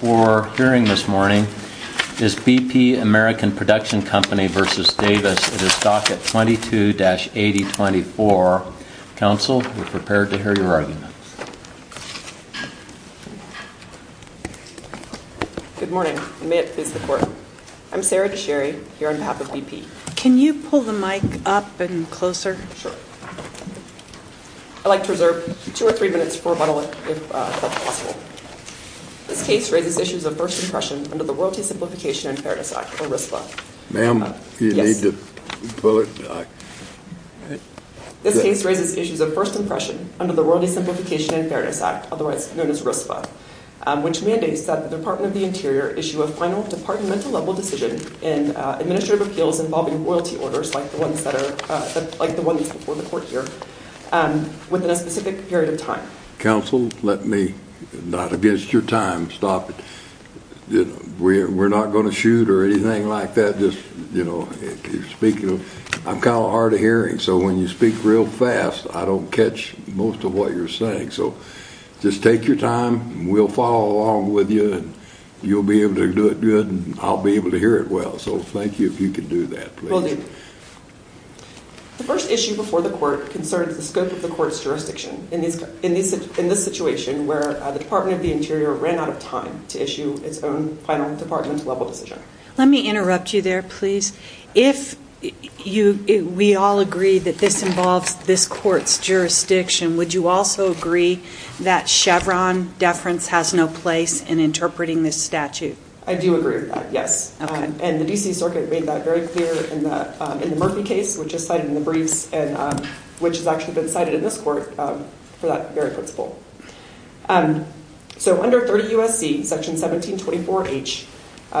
Hearing this morning is BP American Production Company v. Davis. It is stocked at 22-8024. Counsel, we're prepared to hear your arguments. Good morning. I'm Sarah Desherry, here on behalf of BP. Can you pull the mic up and closer? Sure. I'd like to reserve two or three minutes for rebuttal, if that's possible. This case raises issues of first impression under the Royalty Simplification and Fairness Act, or RISPA. Ma'am, you need to pull it. This case raises issues of first impression under the Royalty Simplification and Fairness Act, otherwise known as RISPA, which mandates that the Department of the Interior issue a final departmental-level decision in administrative appeals involving royalty orders, like the ones before the court here, within a specific period of time. Counsel, let me, not against your time, stop it. We're not going to shoot or anything like that. I'm kind of hard of hearing, so when you speak real fast, I don't catch most of what you're saying. So just take your time, and we'll follow along with you, and you'll be able to do it good, and I'll be able to hear it well. So thank you if you can do that, please. Will do. The first issue before the court concerns the scope of the court's jurisdiction in this situation, where the Department of the Interior ran out of time to issue its own final departmental-level decision. Let me interrupt you there, please. If we all agree that this involves this court's jurisdiction, would you also agree that Chevron deference has no place in interpreting this statute? I do agree with that, yes. And the D.C. Circuit made that very clear in the Murphy case, which is cited in the briefs, and which has actually been cited in this court for that very principle. So under 30 U.S.C., Section 1724H,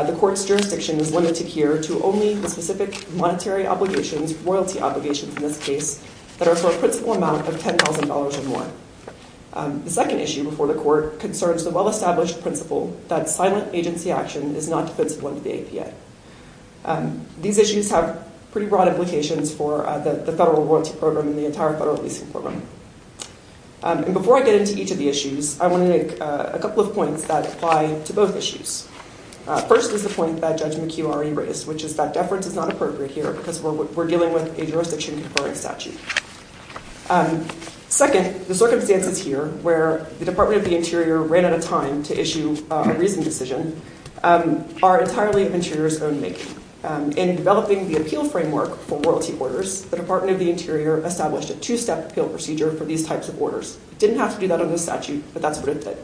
the court's jurisdiction is limited here to only the specific monetary obligations, royalty obligations in this case, that are for a principal amount of $10,000 or more. The second issue before the court concerns the well-established principle that silent agency action is not defensible under the APA. These issues have pretty broad implications for the federal royalty program and the entire federal leasing program. And before I get into each of the issues, I want to make a couple of points that apply to both issues. First is the point that Judge McHugh already raised, which is that deference is not appropriate here because we're dealing with a jurisdiction-conferring statute. Second, the circumstances here, where the Department of the Interior ran out of time to issue a reasoned decision, are entirely of Interior's own making. In developing the appeal framework for royalty orders, the Department of the Interior established a two-step appeal procedure for these types of orders. It didn't have to do that under the statute, but that's what it did.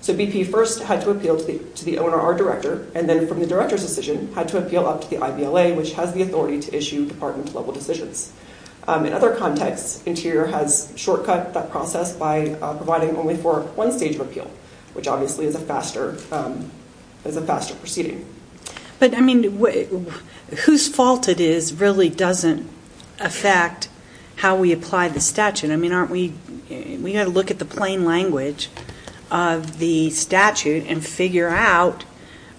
So BP first had to appeal to the owner or director, and then from the director's decision, had to appeal up to the IVLA, which has the authority to issue department-level decisions. In other contexts, Interior has shortcut that process by providing only for one stage of appeal, which obviously is a faster proceeding. But, I mean, whose fault it is really doesn't affect how we apply the statute. I mean, aren't we going to look at the plain language of the statute and figure out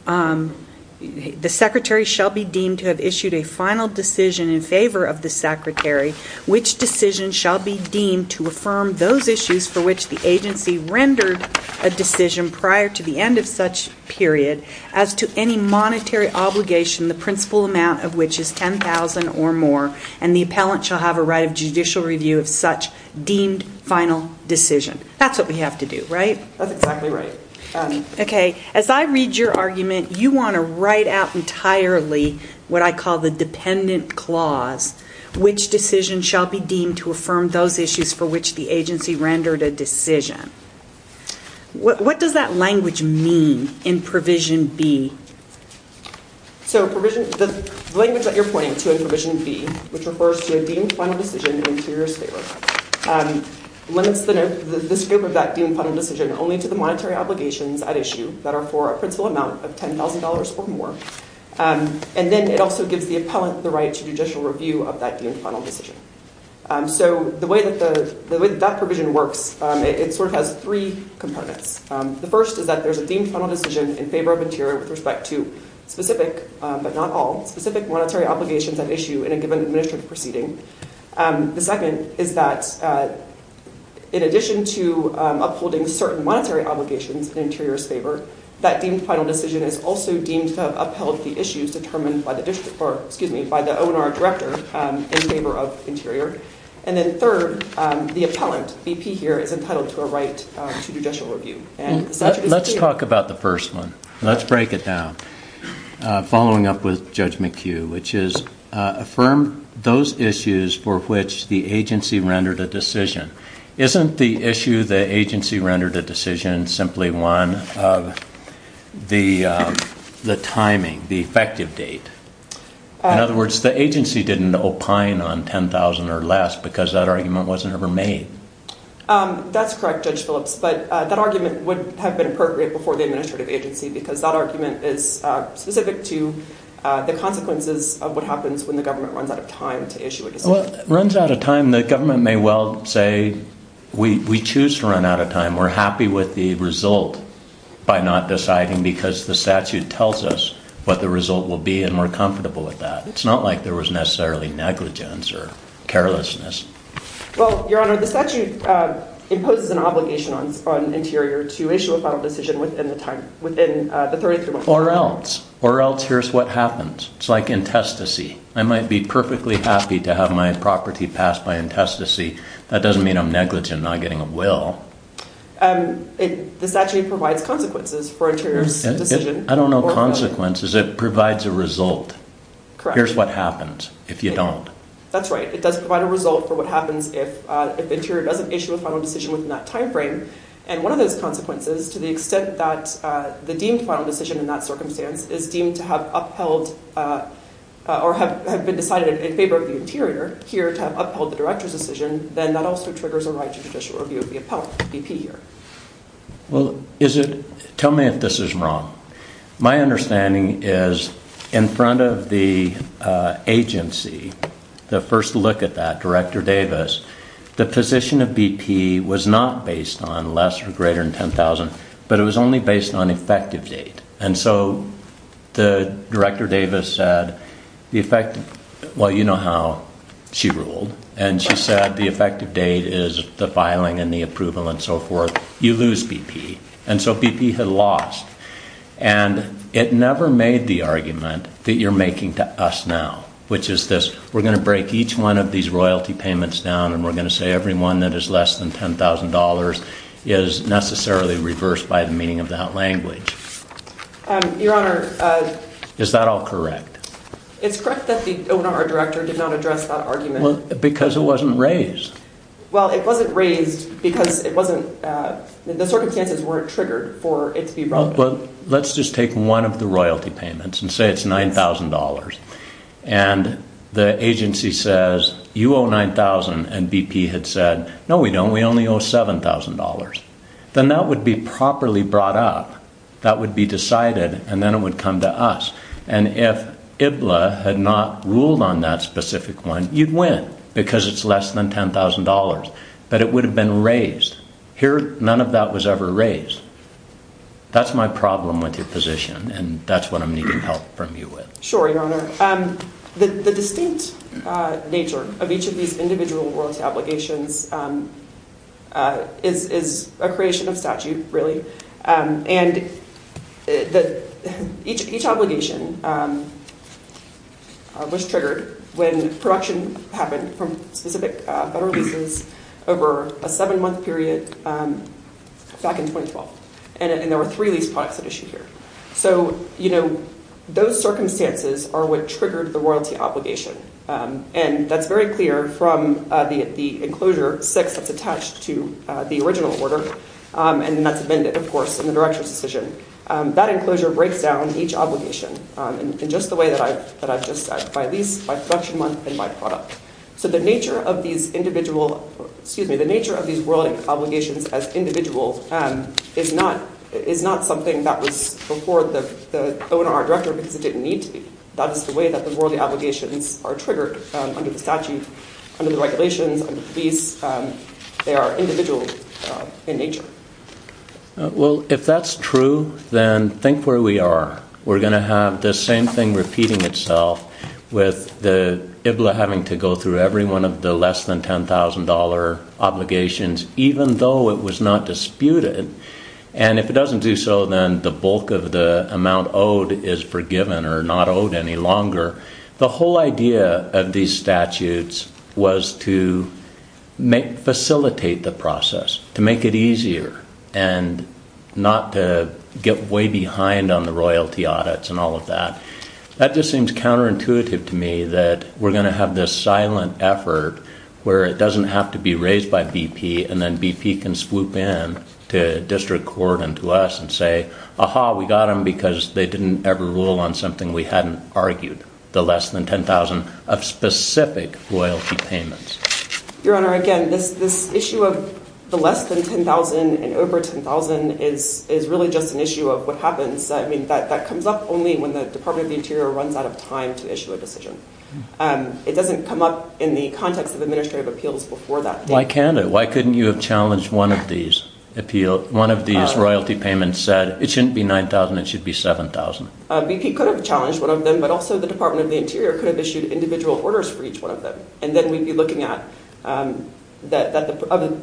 the secretary shall be deemed to have issued a final decision in favor of the secretary, which decision shall be deemed to affirm those issues for which the agency rendered a decision prior to the end of such period, as to any monetary obligation, the principal amount of which is $10,000 or more, and the appellant shall have a right of judicial review of such deemed final decision. That's what we have to do, right? That's exactly right. Okay. As I read your argument, you want to write out entirely what I call the dependent clause, which decision shall be deemed to affirm those issues for which the agency rendered a decision. What does that language mean in Provision B? So the language that you're pointing to in Provision B, which refers to a deemed final decision in Interior's favor, limits the scope of that deemed final decision only to the monetary obligations at issue that are for a principal amount of $10,000 or more, and then it also gives the appellant the right to judicial review of that deemed final decision. So the way that that provision works, it sort of has three components. The first is that there's a deemed final decision in favor of Interior with respect to specific, but not all, specific monetary obligations at issue in a given administrative proceeding. The second is that in addition to upholding certain monetary obligations in Interior's favor, that deemed final decision is also deemed to have upheld the issues determined by the O&R director in favor of Interior. And then third, the appellant, BP here, is entitled to a right to judicial review. Let's talk about the first one. Let's break it down. Following up with Judge McHugh, which is affirm those issues for which the agency rendered a decision. Isn't the issue the agency rendered a decision simply one of the timing, the effective date? In other words, the agency didn't opine on $10,000 or less because that argument wasn't ever made. That's correct, Judge Phillips. But that argument would have been appropriate before the administrative agency because that argument is specific to the consequences of what happens when the government runs out of time to issue a decision. Well, runs out of time, the government may well say, we choose to run out of time. We're happy with the result by not deciding because the statute tells us what the result will be and we're comfortable with that. It's not like there was necessarily negligence or carelessness. Well, Your Honor, the statute imposes an obligation on Interior to issue a final decision within the time, within the 33 months. Or else. Or else here's what happens. It's like intestacy. I might be perfectly happy to have my property passed by intestacy. That doesn't mean I'm negligent in not getting a will. The statute provides consequences for Interior's decision. I don't know consequences. It provides a result. Here's what happens if you don't. That's right. It does provide a result for what happens if Interior doesn't issue a final decision within that time frame. And one of those consequences, to the extent that the deemed final decision in that circumstance is deemed to have upheld, or have been decided in favor of the Interior here to have upheld the Director's decision, then that also triggers a right to judicial review of the appellant, BP here. Well, is it, tell me if this is wrong. My understanding is in front of the agency, the first look at that, Director Davis, the position of BP was not based on less or greater than $10,000, but it was only based on effective date. And so the Director Davis said, well, you know how she ruled. And she said the effective date is the filing and the approval and so forth. You lose BP. And so BP had lost. And it never made the argument that you're making to us now, which is this, we're going to break each one of these royalty payments down and we're going to say every one that is less than $10,000 is necessarily reversed by the meaning of that language. Your Honor. Is that all correct? It's correct that the owner or Director did not address that argument. Because it wasn't raised. Well, it wasn't raised because it wasn't, the circumstances weren't triggered for it to be brought up. Well, let's just take one of the royalty payments and say it's $9,000. And the agency says, you owe $9,000. And BP had said, no, we don't. We only owe $7,000. Then that would be properly brought up. That would be decided. And then it would come to us. And if IBLA had not ruled on that specific one, you'd win. Because it's less than $10,000. But it would have been raised. Here, none of that was ever raised. That's my problem with your position. And that's what I'm needing help from you with. Sure, Your Honor. The distinct nature of each of these individual royalty obligations is a creation of statute, really. And each obligation was triggered when production happened from specific federal leases over a seven-month period back in 2012. And there were three lease products at issue here. So, you know, those circumstances are what triggered the royalty obligation. And that's very clear from the enclosure six that's attached to the original order. And that's amended, of course, in the Director's decision. That enclosure breaks down each obligation in just the way that I've just said. By lease, by production month, and by product. So the nature of these individual – excuse me. The nature of these royalty obligations as individual is not something that was before the owner or director because it didn't need to be. That is the way that the royalty obligations are triggered under the statute, under the regulations, under the lease. They are individual in nature. Well, if that's true, then think where we are. We're going to have the same thing repeating itself with the IBLA having to go through every one of the less than $10,000 obligations even though it was not disputed. And if it doesn't do so, then the bulk of the amount owed is forgiven or not owed any longer. The whole idea of these statutes was to facilitate the process, to make it easier, and not to get way behind on the royalty audits and all of that. That just seems counterintuitive to me that we're going to have this silent effort where it doesn't have to be raised by BP and then BP can swoop in to district court and to us and say, aha, we got them because they didn't ever rule on something we hadn't argued, the less than $10,000 of specific royalty payments. Your Honor, again, this issue of the less than $10,000 and over $10,000 is really just an issue of what happens. That comes up only when the Department of the Interior runs out of time to issue a decision. It doesn't come up in the context of administrative appeals before that date. Why can't it? Why couldn't you have challenged one of these royalty payments and said it shouldn't be $9,000, it should be $7,000? BP could have challenged one of them, but also the Department of the Interior could have issued individual orders for each one of them. Then we'd be looking at the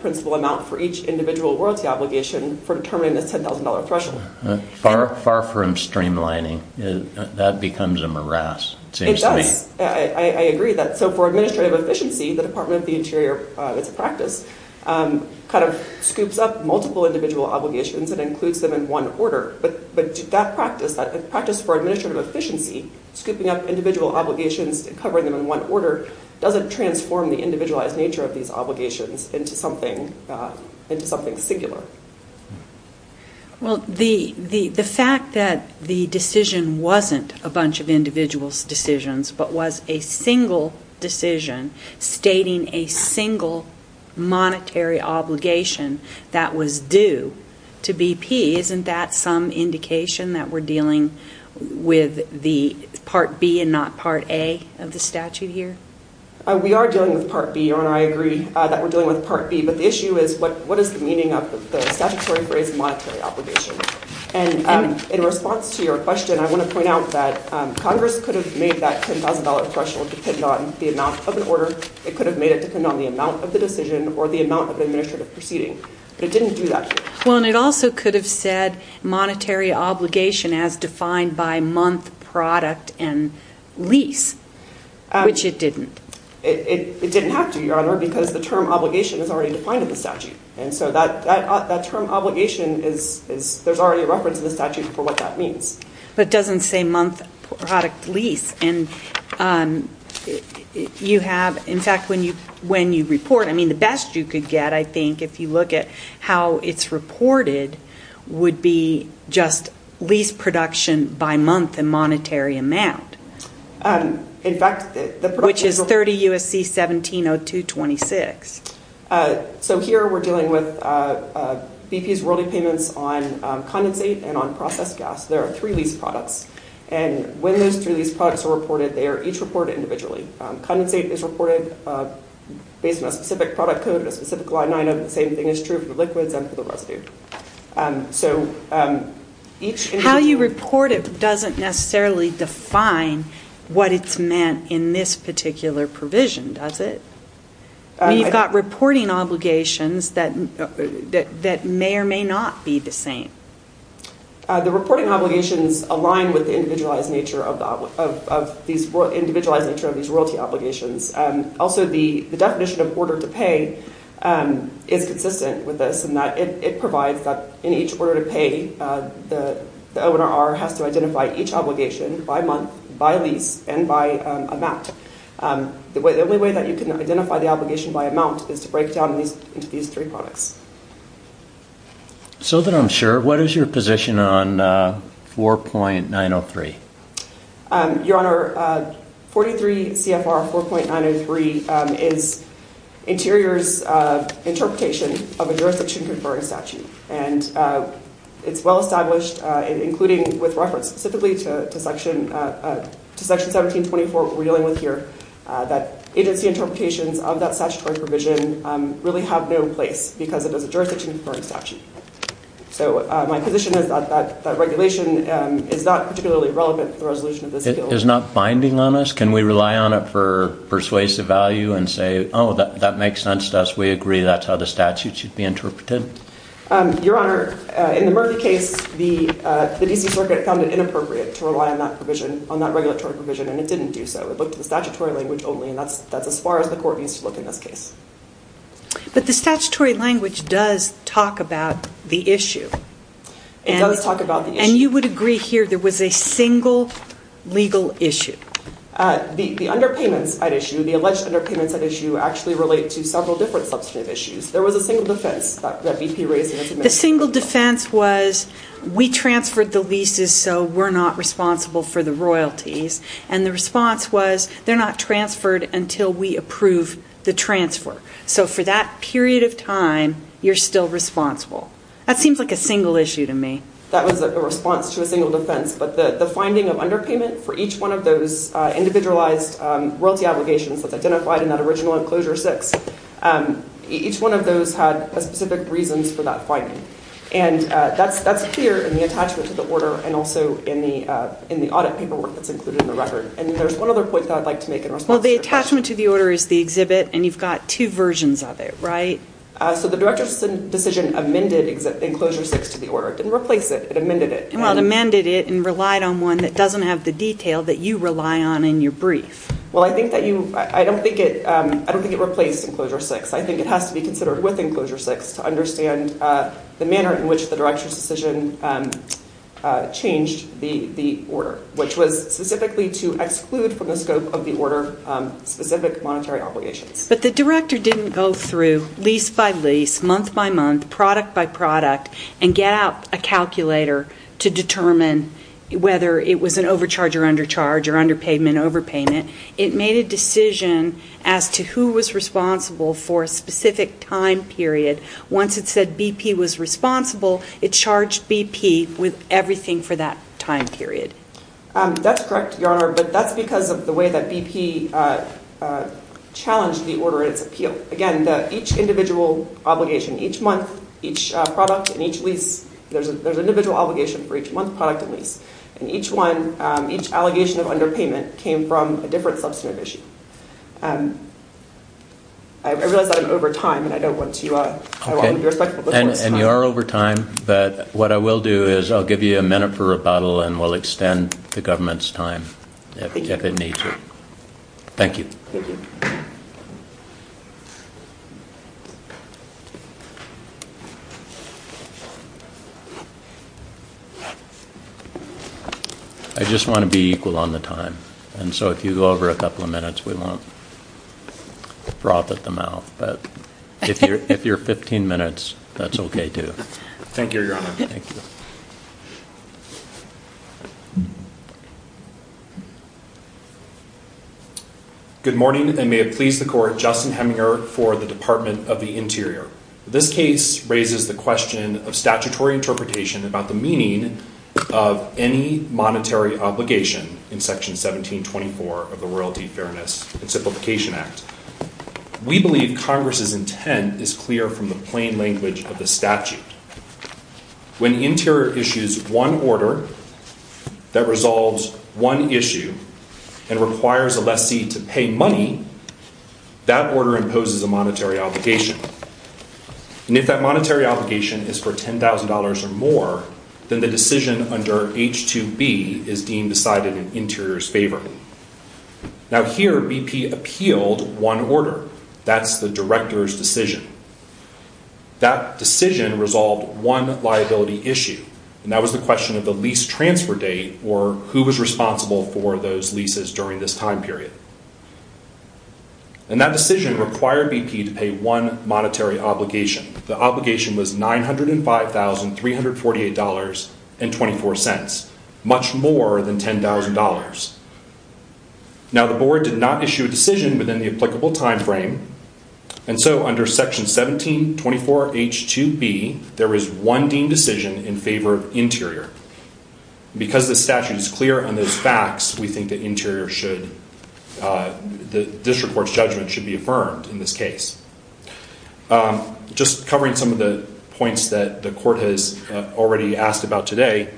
principal amount for each individual royalty obligation for determining the $10,000 threshold. Far from streamlining. That becomes a morass, it seems to me. It does. I agree with that. For administrative efficiency, the Department of the Interior, it's a practice, kind of scoops up multiple individual obligations and includes them in one order. But that practice, that practice for administrative efficiency, scooping up individual obligations and covering them in one order, doesn't transform the individualized nature of these obligations into something singular. Well, the fact that the decision wasn't a bunch of individuals' decisions but was a single decision stating a single monetary obligation that was due to BP, isn't that some indication that we're dealing with the Part B and not Part A of the statute here? We are dealing with Part B, Your Honor. I agree that we're dealing with Part B. But the issue is what is the meaning of the statutory phrase, monetary obligation? And in response to your question, I want to point out that Congress could have made that $10,000 threshold depend on the amount of an order. It could have made it depend on the amount of the decision or the amount of the administrative proceeding. But it didn't do that here. Well, and it also could have said monetary obligation as defined by month, product, and lease, which it didn't. It didn't have to, Your Honor, because the term obligation is already defined in the statute. And so that term obligation is – there's already a reference in the statute for what that means. But it doesn't say month, product, lease. And you have – in fact, when you report – I mean, the best you could get, I think, if you look at how it's reported would be just lease production by month and monetary amount, which is 30 U.S.C. 17-02-26. So here we're dealing with BP's worldly payments on condensate and on processed gas. There are three lease products. And when those three lease products are reported, they are each reported individually. Condensate is reported based on a specific product code, a specific line item. The same thing is true for the liquids and for the residue. So each individual – How you report it doesn't necessarily define what it's meant in this particular provision, does it? I mean, you've got reporting obligations that may or may not be the same. The reporting obligations align with the individualized nature of these royalty obligations. Also, the definition of order to pay is consistent with this in that it provides that in each order to pay, the ONRR has to identify each obligation by month, by lease, and by amount. The only way that you can identify the obligation by amount is to break it down into these three products. So that I'm sure, what is your position on 4.903? Your Honor, 43 CFR 4.903 is Interior's interpretation of a jurisdiction-conferring statute. And it's well-established, including with reference specifically to Section 17-24 we're dealing with here, that agency interpretations of that statutory provision really have no place because it is a jurisdiction-conferring statute. So my position is that that regulation is not particularly relevant to the resolution of this bill. It is not binding on us? Can we rely on it for persuasive value and say, oh, that makes sense to us, we agree, that's how the statute should be interpreted? Your Honor, in the Murphy case, the D.C. Circuit found it inappropriate to rely on that provision, and it didn't do so. It looked at the statutory language only, and that's as far as the court needs to look in this case. But the statutory language does talk about the issue. It does talk about the issue. And you would agree here there was a single legal issue. The underpayments at issue, the alleged underpayments at issue, actually relate to several different substantive issues. There was a single defense that BP raised in its admission. The single defense was, we transferred the leases so we're not responsible for the royalties. And the response was, they're not transferred until we approve the transfer. So for that period of time, you're still responsible. That seems like a single issue to me. That was a response to a single defense. But the finding of underpayment for each one of those individualized royalty obligations that's identified in that original Enclosure 6, each one of those had specific reasons for that finding. And that's clear in the attachment to the order and also in the audit paperwork that's included in the record. And there's one other point that I'd like to make in response to your question. Well, the attachment to the order is the exhibit, and you've got two versions of it, right? So the Director's decision amended Enclosure 6 to the order. It didn't replace it. It amended it. Well, it amended it and relied on one that doesn't have the detail that you rely on in your brief. Well, I don't think it replaced Enclosure 6. I think it has to be considered with Enclosure 6 to understand the manner in which the Director's decision changed the order, which was specifically to exclude from the scope of the order specific monetary obligations. But the Director didn't go through lease by lease, month by month, product by product, and get out a calculator to determine whether it was an overcharge or undercharge or underpayment, overpayment. It made a decision as to who was responsible for a specific time period. Once it said BP was responsible, it charged BP with everything for that time period. That's correct, Your Honor, but that's because of the way that BP challenged the order and its appeal. Again, each individual obligation, each month, each product, and each lease, there's an individual obligation for each month, product, and lease. And each one, each allegation of underpayment came from a different substantive issue. I realize that I'm over time, and I don't want to – I want to be respectful. And you are over time, but what I will do is I'll give you a minute for rebuttal, and we'll extend the government's time if it needs it. Thank you. Thank you. I just want to be equal on the time. And so if you go over a couple of minutes, we won't broth at the mouth. But if you're 15 minutes, that's okay, too. Thank you, Your Honor. Thank you. Good morning, and may it please the Court, Justin Heminger for the Department of the Interior. This case raises the question of statutory interpretation about the meaning of any monetary obligation in Section 1724 of the Royalty, Fairness, and Simplification Act. We believe Congress's intent is clear from the plain language of the statute. When Interior issues one order that resolves one issue and requires a lessee to pay money, that order imposes a monetary obligation. And if that monetary obligation is for $10,000 or more, then the decision under H2B is deemed decided in Interior's favor. Now here BP appealed one order. That's the Director's decision. That decision resolved one liability issue, and that was the question of the lease transfer date or who was responsible for those leases during this time period. And that decision required BP to pay one monetary obligation. The obligation was $905,348.24, much more than $10,000. Now the Board did not issue a decision within the applicable timeframe, and so under Section 1724 H2B, there is one deemed decision in favor of Interior. Because the statute is clear on those facts, we think that Interior should, the District Court's judgment should be affirmed in this case. Just covering some of the points that the Court has already asked about today,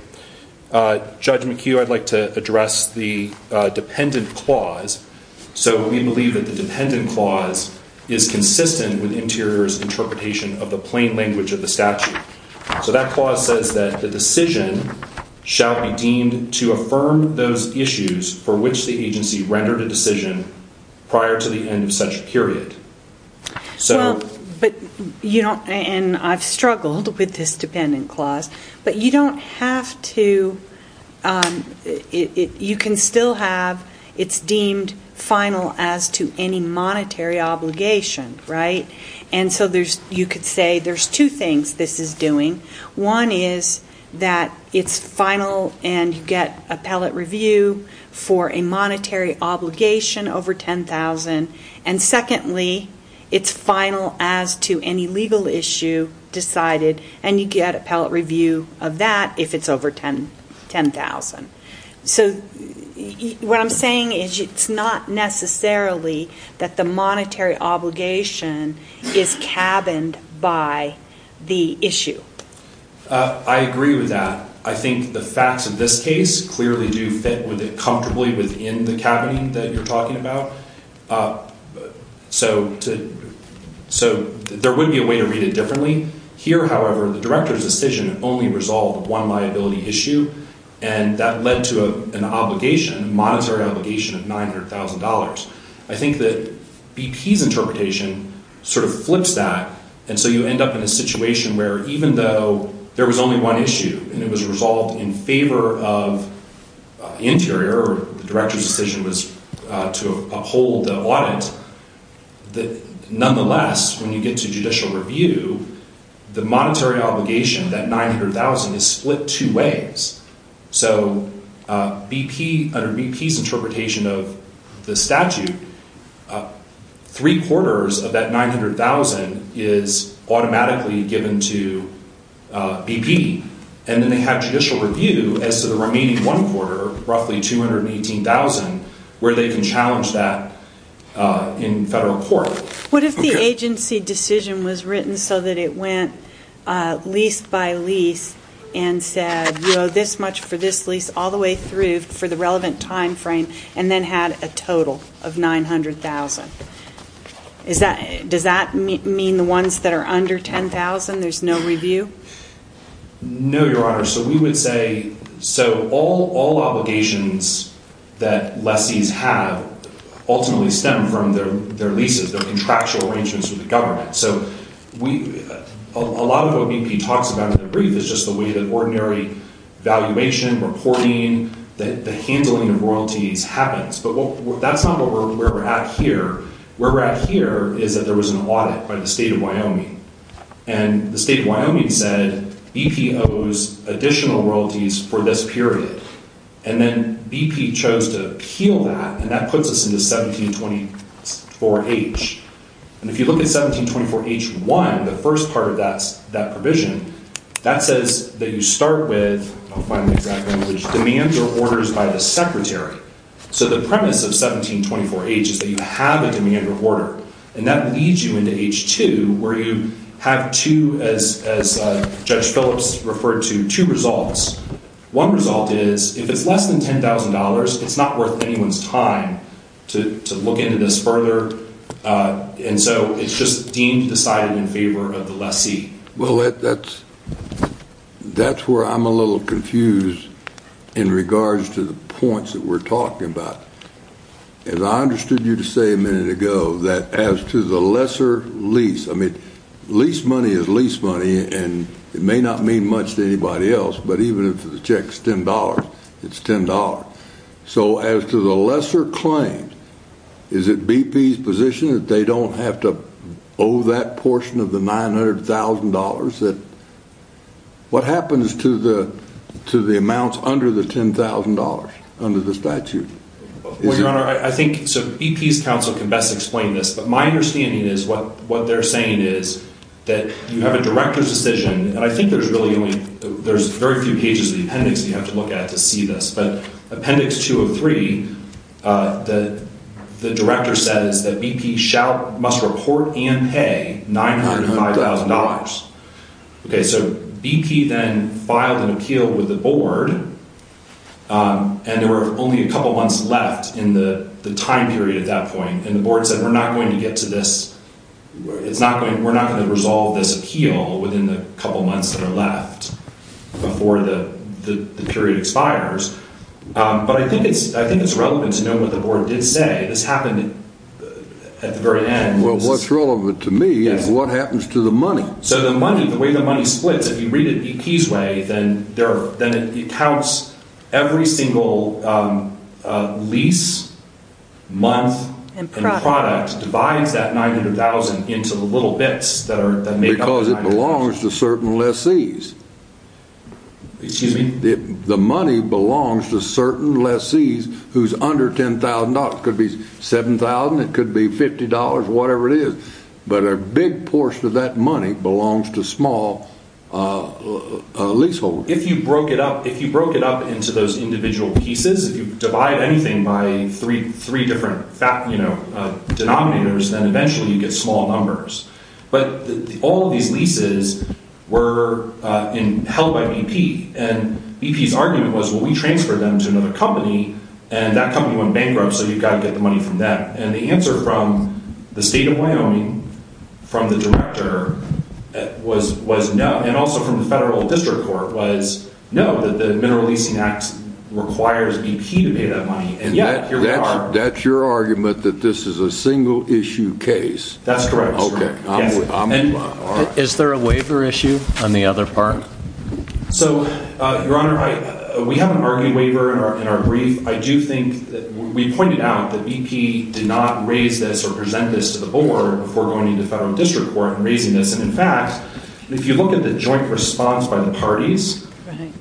Judgment Q, I'd like to address the dependent clause. So we believe that the dependent clause is consistent with Interior's interpretation of the plain language of the statute. So that clause says that the decision shall be deemed to affirm those issues for which the agency rendered a decision prior to the end of such a period. Well, but you don't, and I've struggled with this dependent clause, but you don't have to, you can still have, it's deemed final as to any monetary obligation, right? And so you could say there's two things this is doing. One is that it's final and you get appellate review for a monetary obligation over $10,000. And secondly, it's final as to any legal issue decided, and you get appellate review of that if it's over $10,000. So what I'm saying is it's not necessarily that the monetary obligation is cabined by the issue. I agree with that. I think the facts of this case clearly do fit with it comfortably within the cabinet that you're talking about. So there would be a way to read it differently. Here, however, the director's decision only resolved one liability issue, and that led to an obligation, a monetary obligation of $900,000. I think that BP's interpretation sort of flips that, and so you end up in a situation where even though there was only one issue, and it was resolved in favor of the interior, or the director's decision was to uphold the audit, nonetheless, when you get to judicial review, the monetary obligation, that $900,000, is split two ways. So under BP's interpretation of the statute, three quarters of that $900,000 is automatically given to BP, and then they have judicial review as to the remaining one quarter, roughly $218,000, where they can challenge that in federal court. What if the agency decision was written so that it went lease by lease and said, you owe this much for this lease all the way through for the relevant time frame, and then had a total of $900,000? Does that mean the ones that are under $10,000, there's no review? No, Your Honor. So we would say all obligations that lessees have ultimately stem from their leases, their contractual arrangements with the government. So a lot of what BP talks about in the brief is just the way that ordinary valuation, reporting, the handling of royalties happens. But that's not where we're at here. Where we're at here is that there was an audit by the state of Wyoming, and the state of Wyoming said BP owes additional royalties for this period. And then BP chose to appeal that, and that puts us into 1724H. And if you look at 1724H1, the first part of that provision, that says that you start with demands or orders by the secretary. So the premise of 1724H is that you have a demand or order, and that leads you into H2 where you have two, as Judge Phillips referred to, two results. One result is if it's less than $10,000, it's not worth anyone's time to look into this further. And so it's just deemed, decided in favor of the lessee. Well, that's where I'm a little confused in regards to the points that we're talking about. As I understood you to say a minute ago, that as to the lesser lease, I mean, lease money is lease money, and it may not mean much to anybody else, but even if the check's $10, it's $10. So as to the lesser claim, is it BP's position that they don't have to owe that portion of the $900,000? What happens to the amounts under the $10,000, under the statute? Well, Your Honor, I think BP's counsel can best explain this, but my understanding is what they're saying is that you have a director's decision, and I think there's very few pages of the appendix you have to look at to see this, but Appendix 2 of 3, the director says that BP must report and pay $905,000. Okay, so BP then filed an appeal with the board, and there were only a couple months left in the time period at that point, and the board said we're not going to get to this, we're not going to resolve this appeal within the couple months that are left before the period expires. But I think it's relevant to know what the board did say. This happened at the very end. Well, what's relevant to me is what happens to the money. So the money, the way the money splits, if you read it BP's way, then it counts every single lease, month, and product, because it belongs to certain lessees. The money belongs to certain lessees who's under $10,000. It could be $7,000, it could be $50, whatever it is. But a big portion of that money belongs to small leaseholders. If you broke it up into those individual pieces, if you divide anything by three different denominators, then eventually you get small numbers. But all of these leases were held by BP. And BP's argument was, well, we transferred them to another company, and that company went bankrupt, so you've got to get the money from them. And the answer from the state of Wyoming, from the director, was no. And also from the federal district court was no, that the Mineral Leasing Act requires BP to pay that money. And yet, here we are. That's your argument that this is a single-issue case? That's correct. Okay. Is there a waiver issue on the other part? So, Your Honor, we haven't argued waiver in our brief. I do think that we pointed out that BP did not raise this or present this to the board before going into federal district court and raising this. And, in fact, if you look at the joint response by the parties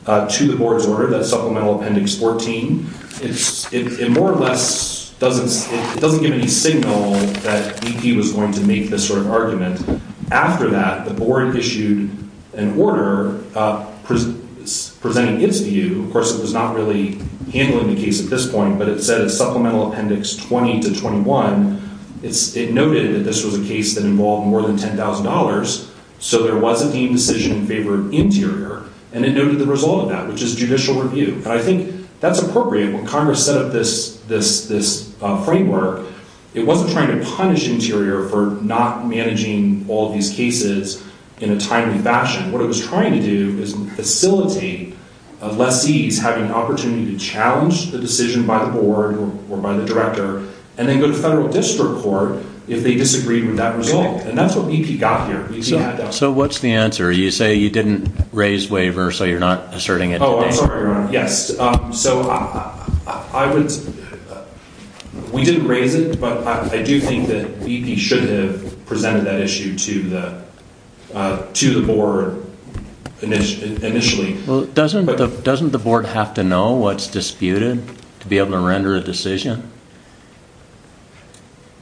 to the board's order, that supplemental appendix 14, it more or less doesn't give any signal that BP was going to make this sort of argument. After that, the board issued an order presenting its view. Of course, it was not really handling the case at this point, but it said in supplemental appendix 20 to 21, it noted that this was a case that involved more than $10,000, so there was a deemed decision in favor of interior. And it noted the result of that, which is judicial review. And I think that's appropriate. When Congress set up this framework, it wasn't trying to punish interior for not managing all of these cases in a timely fashion. What it was trying to do is facilitate a lessee's having an opportunity to challenge the decision by the board or by the director and then go to federal district court if they disagreed with that result. And that's what BP got here. BP had that. So what's the answer? You say you didn't raise waiver, so you're not asserting it today? I'm sorry, Your Honor. Yes. So we didn't raise it, but I do think that BP should have presented that issue to the board initially. Well, doesn't the board have to know what's disputed to be able to render a decision?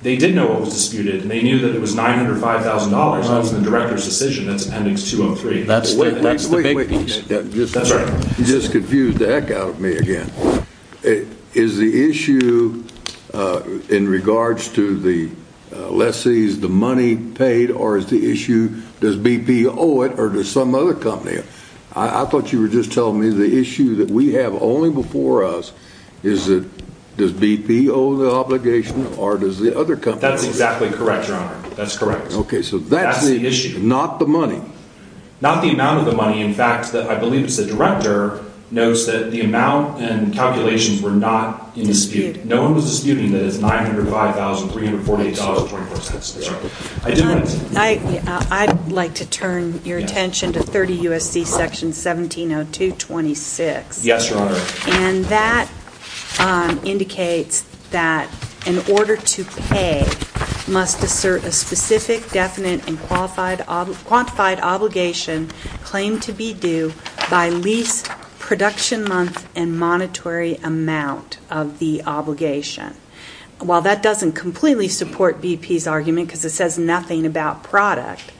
They did know what was disputed, and they knew that it was $905,000. That was the director's decision. That's appendix 203. That's the big piece. You just confused the heck out of me again. Is the issue in regards to the lessee's, the money paid, or is the issue does BP owe it or does some other company? I thought you were just telling me the issue that we have only before us is that does BP owe the obligation or does the other company? That's exactly correct, Your Honor. That's correct. Okay, so that's the issue, not the money. Not the amount of the money. In fact, I believe it's the director notes that the amount and calculations were not in dispute. No one was disputing that it's $905,000, $348,024. I'd like to turn your attention to 30 U.S.C. Section 1702.26. Yes, Your Honor. And that indicates that in order to pay, must assert a specific, definite, and quantified obligation claimed to be due by lease, production month, and monetary amount of the obligation. While that doesn't completely support BP's argument because it says nothing about product,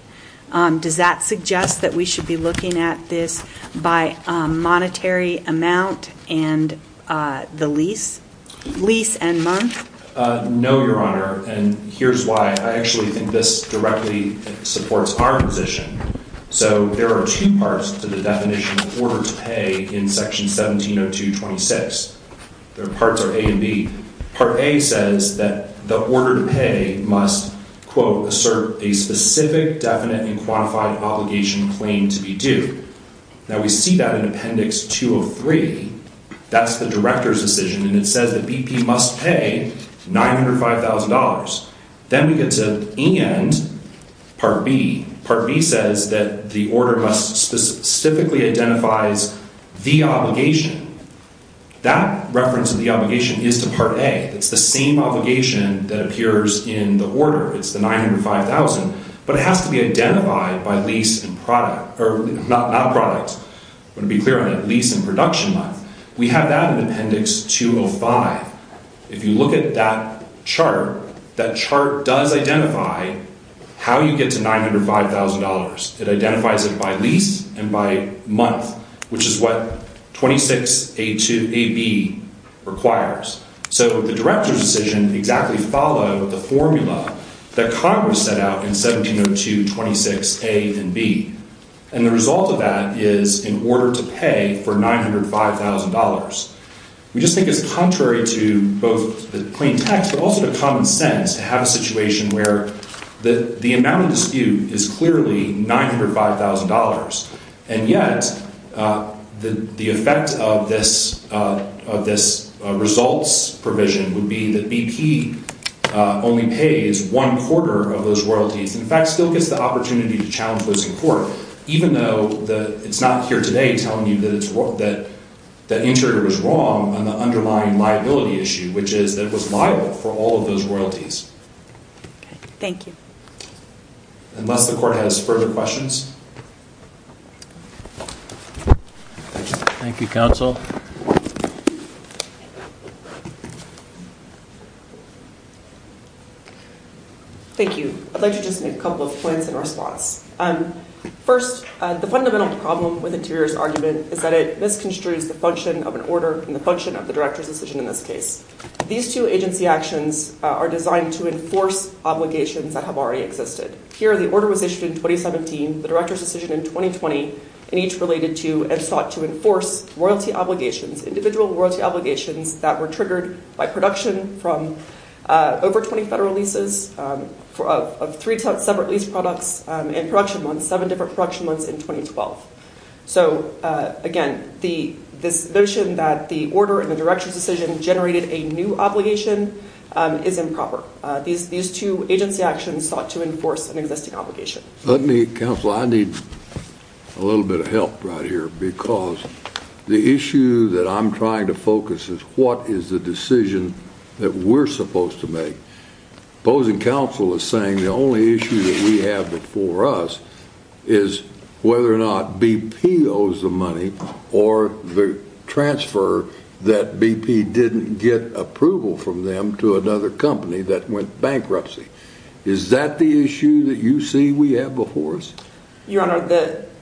does that suggest that we should be looking at this by monetary amount and the lease? Lease and month? No, Your Honor. And here's why. I actually think this directly supports our position. So there are two parts to the definition of order to pay in Section 1702.26. The parts are A and B. Part A says that the order to pay must, quote, assert a specific, definite, and quantified obligation claimed to be due. Now, we see that in Appendix 203. That's the director's decision, and it says that BP must pay $905,000. Then we get to end Part B. Part B says that the order must specifically identify the obligation. That reference of the obligation is to Part A. It's the same obligation that appears in the order. It's the $905,000, but it has to be identified by lease and product. Not product. I want to be clear on that. Lease and production month. We have that in Appendix 205. If you look at that chart, that chart does identify how you get to $905,000. It identifies it by lease and by month, which is what 26AB requires. So the director's decision exactly followed the formula that Congress set out in 1702.26A and B. And the result of that is an order to pay for $905,000. We just think it's contrary to both the plain text, but also to common sense to have a situation where the amount of dispute is clearly $905,000. And yet the effect of this results provision would be that BP only pays one quarter of those royalties. In fact, still gets the opportunity to challenge those in court, even though it's not here today telling you that the interior was wrong on the underlying liability issue, which is that it was liable for all of those royalties. Thank you. Unless the court has further questions. Thank you, counsel. Thank you. I'd like to just make a couple of points in response. First, the fundamental problem with Interior's argument is that it misconstrues the function of an order and the function of the director's decision in this case. These two agency actions are designed to enforce obligations that have already existed. Here, the order was issued in 2017, the director's decision in 2020, and each related to and sought to enforce royalty obligations, individual royalty obligations that were triggered by production from over 20 federal leases of three separate lease products in production months, seven different production months in 2012. So, again, this notion that the order and the director's decision generated a new obligation is improper. These two agency actions sought to enforce an existing obligation. Counsel, I need a little bit of help right here because the issue that I'm trying to focus is what is the decision that we're supposed to make. Opposing counsel is saying the only issue that we have before us is whether or not BP owes the money or the transfer that BP didn't get approval from them to another company that went bankruptcy. Is that the issue that you see we have before us? Your Honor,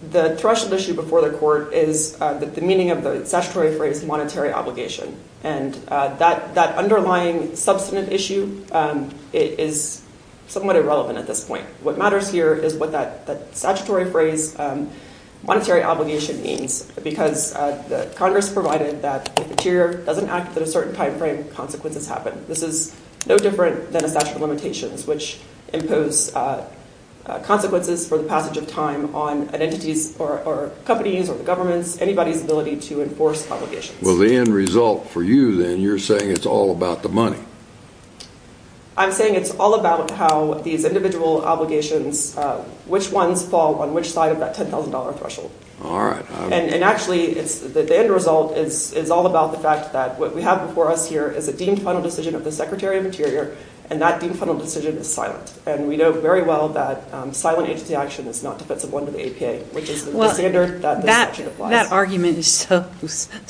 the threshold issue before the court is the meaning of the statutory phrase monetary obligation. And that underlying substantive issue is somewhat irrelevant at this point. What matters here is what that statutory phrase monetary obligation means because Congress provided that if the tier doesn't act at a certain timeframe, consequences happen. This is no different than a statute of limitations, which impose consequences for the passage of time on identities or companies or governments, anybody's ability to enforce obligations. Well, the end result for you then, you're saying it's all about the money. I'm saying it's all about how these individual obligations, which ones fall on which side of that $10,000 threshold. All right. And actually, the end result is all about the fact that what we have before us here is a deemed final decision of the Secretary of Interior, and that deemed final decision is silent. And we know very well that silent agency action is not defensible under the APA, which is the standard that the statute applies. But that argument is so –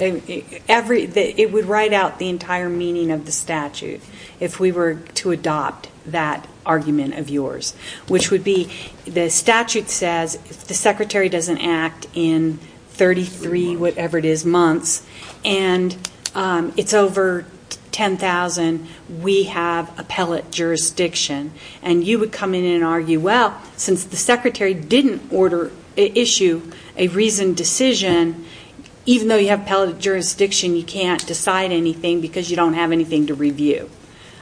it would write out the entire meaning of the statute if we were to adopt that argument of yours, which would be the statute says if the Secretary doesn't act in 33-whatever-it-is months and it's over $10,000, we have appellate jurisdiction. And you would come in and argue, well, since the Secretary didn't issue a reasoned decision, even though you have appellate jurisdiction, you can't decide anything because you don't have anything to review.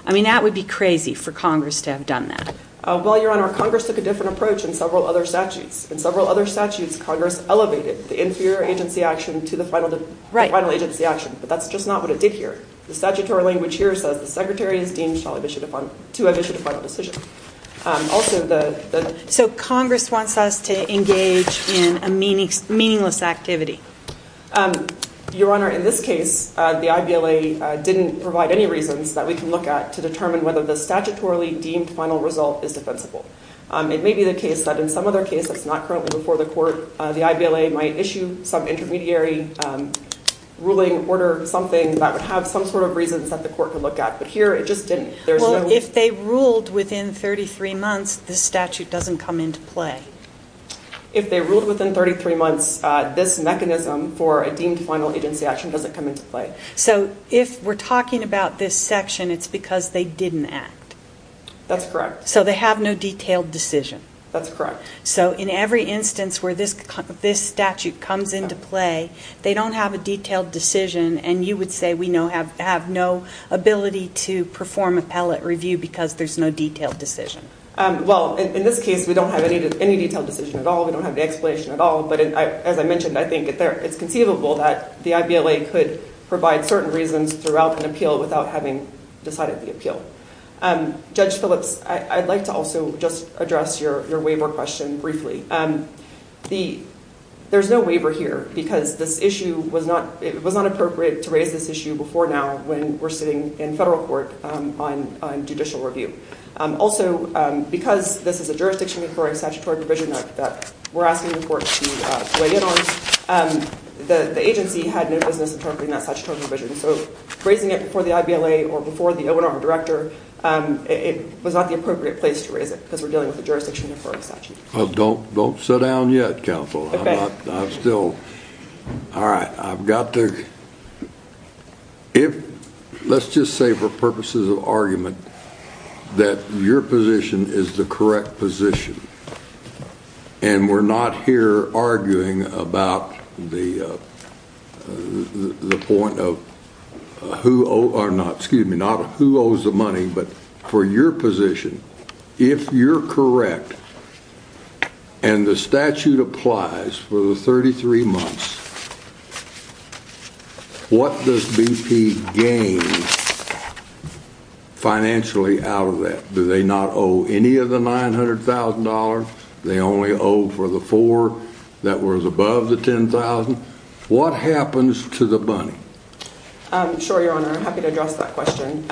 I mean, that would be crazy for Congress to have done that. Well, Your Honor, Congress took a different approach in several other statutes. In several other statutes, Congress elevated the inferior agency action to the final agency action. But that's just not what it did here. The statutory language here says the Secretary is deemed to have issued a final decision. Also, the – So Congress wants us to engage in a meaningless activity. Your Honor, in this case, the IVLA didn't provide any reasons that we can look at to determine whether the statutorily deemed final result is defensible. It may be the case that in some other case that's not currently before the court, the IVLA might issue some intermediary ruling, order something that would have some sort of reasons that the court could look at. But here it just didn't. Well, if they ruled within 33 months, this statute doesn't come into play. If they ruled within 33 months, this mechanism for a deemed final agency action doesn't come into play. So if we're talking about this section, it's because they didn't act. That's correct. So they have no detailed decision. That's correct. So in every instance where this statute comes into play, they don't have a detailed decision, and you would say we have no ability to perform appellate review because there's no detailed decision. Well, in this case, we don't have any detailed decision at all. We don't have the explanation at all. But as I mentioned, I think it's conceivable that the IVLA could provide certain reasons throughout an appeal without having decided the appeal. Judge Phillips, I'd like to also just address your waiver question briefly. There's no waiver here because this issue was not appropriate to raise this issue before now when we're sitting in federal court on judicial review. Also, because this is a jurisdiction requiring statutory provision that we're asking the court to weigh in on, the agency had no business interpreting that statutory provision. So raising it before the IVLA or before the O&R director, it was not the appropriate place to raise it because we're dealing with a jurisdiction requiring statute. Don't sit down yet, counsel. Okay. Let's just say for purposes of argument that your position is the correct position, and we're not here arguing about the point of who owes the money. But for your position, if you're correct and the statute applies for the 33 months, what does BP gain financially out of that? Do they not owe any of the $900,000? They only owe for the four that was above the $10,000? What happens to the money? Sure, Your Honor. I'm happy to address that question.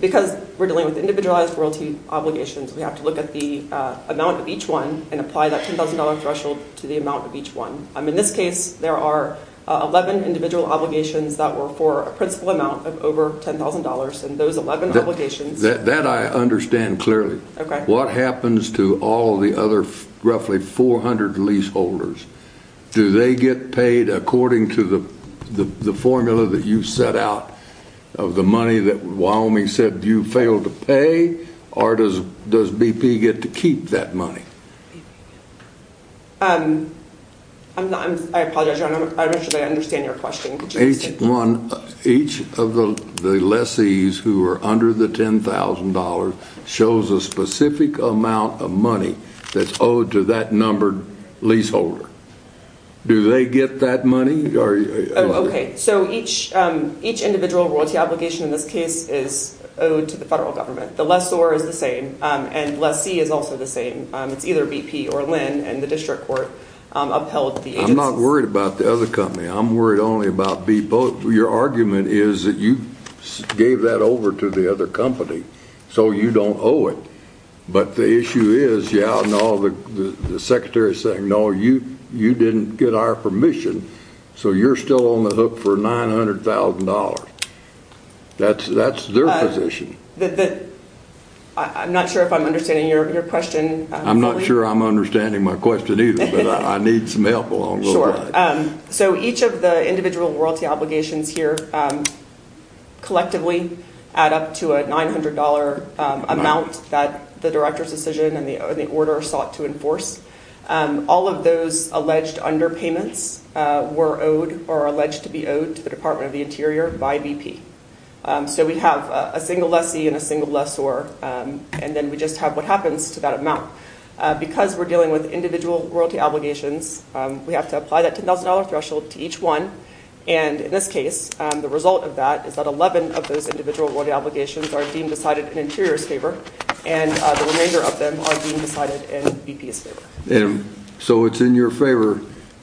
Because we're dealing with individualized royalty obligations, we have to look at the amount of each one and apply that $10,000 threshold to the amount of each one. In this case, there are 11 individual obligations that were for a principal amount of over $10,000. That I understand clearly. Okay. What happens to all the other roughly 400 leaseholders? Do they get paid according to the formula that you set out of the money that Wyoming said you failed to pay? Or does BP get to keep that money? I apologize, Your Honor. I'm not sure that I understand your question. Each of the lessees who are under the $10,000 shows a specific amount of money that's owed to that numbered leaseholder. Do they get that money? Okay. So each individual royalty obligation in this case is owed to the federal government. The lessor is the same and lessee is also the same. It's either BP or Lynn and the district court upheld the agency. I'm not worried about the other company. I'm worried only about BP. Your argument is that you gave that over to the other company, so you don't owe it. But the issue is, the secretary is saying, no, you didn't get our permission, so you're still on the hook for $900,000. That's their position. I'm not sure if I'm understanding your question. I'm not sure I'm understanding my question either, but I need some help along the way. Sure. So each of the individual royalty obligations here collectively add up to a $900 amount that the director's decision and the order sought to enforce. All of those alleged underpayments were owed or are alleged to be owed to the Department of the Interior by BP. So we have a single lessee and a single lessor, and then we just have what happens to that amount. Because we're dealing with individual royalty obligations, we have to apply that $10,000 threshold to each one, and in this case, the result of that is that 11 of those individual royalty obligations are deemed decided in Interior's favor, and the remainder of them are deemed decided in BP's favor. So it's in your favor.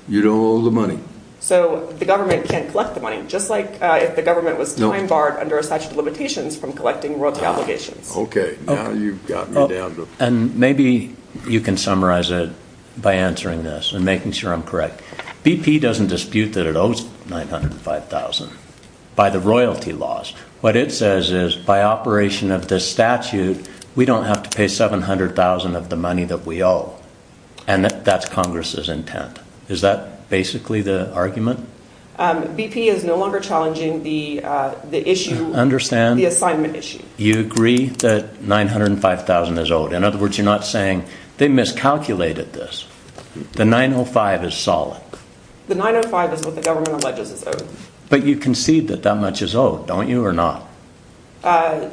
You don't owe the money. So the government can't collect the money, just like if the government was time barred under a statute of limitations from collecting royalty obligations. Okay, now you've got me down. And maybe you can summarize it by answering this and making sure I'm correct. BP doesn't dispute that it owes $905,000 by the royalty laws. What it says is by operation of this statute, we don't have to pay $700,000 of the money that we owe, and that's Congress's intent. Is that basically the argument? BP is no longer challenging the issue, the assignment issue. You agree that $905,000 is owed. In other words, you're not saying they miscalculated this. The $905,000 is solid. The $905,000 is what the government alleges is owed. But you concede that that much is owed, don't you, or not?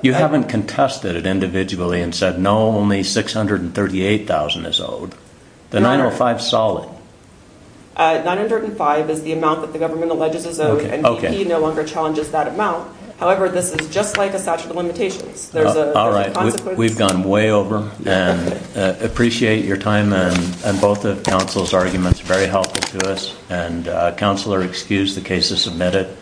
You haven't contested it individually and said, no, only $638,000 is owed. The $905,000 is solid. $905,000 is the amount that the government alleges is owed, and BP no longer challenges that amount. However, this is just like a statute of limitations. All right, we've gone way over. I appreciate your time, and both of counsel's arguments are very helpful to us. Counselor, excuse the case is submitted.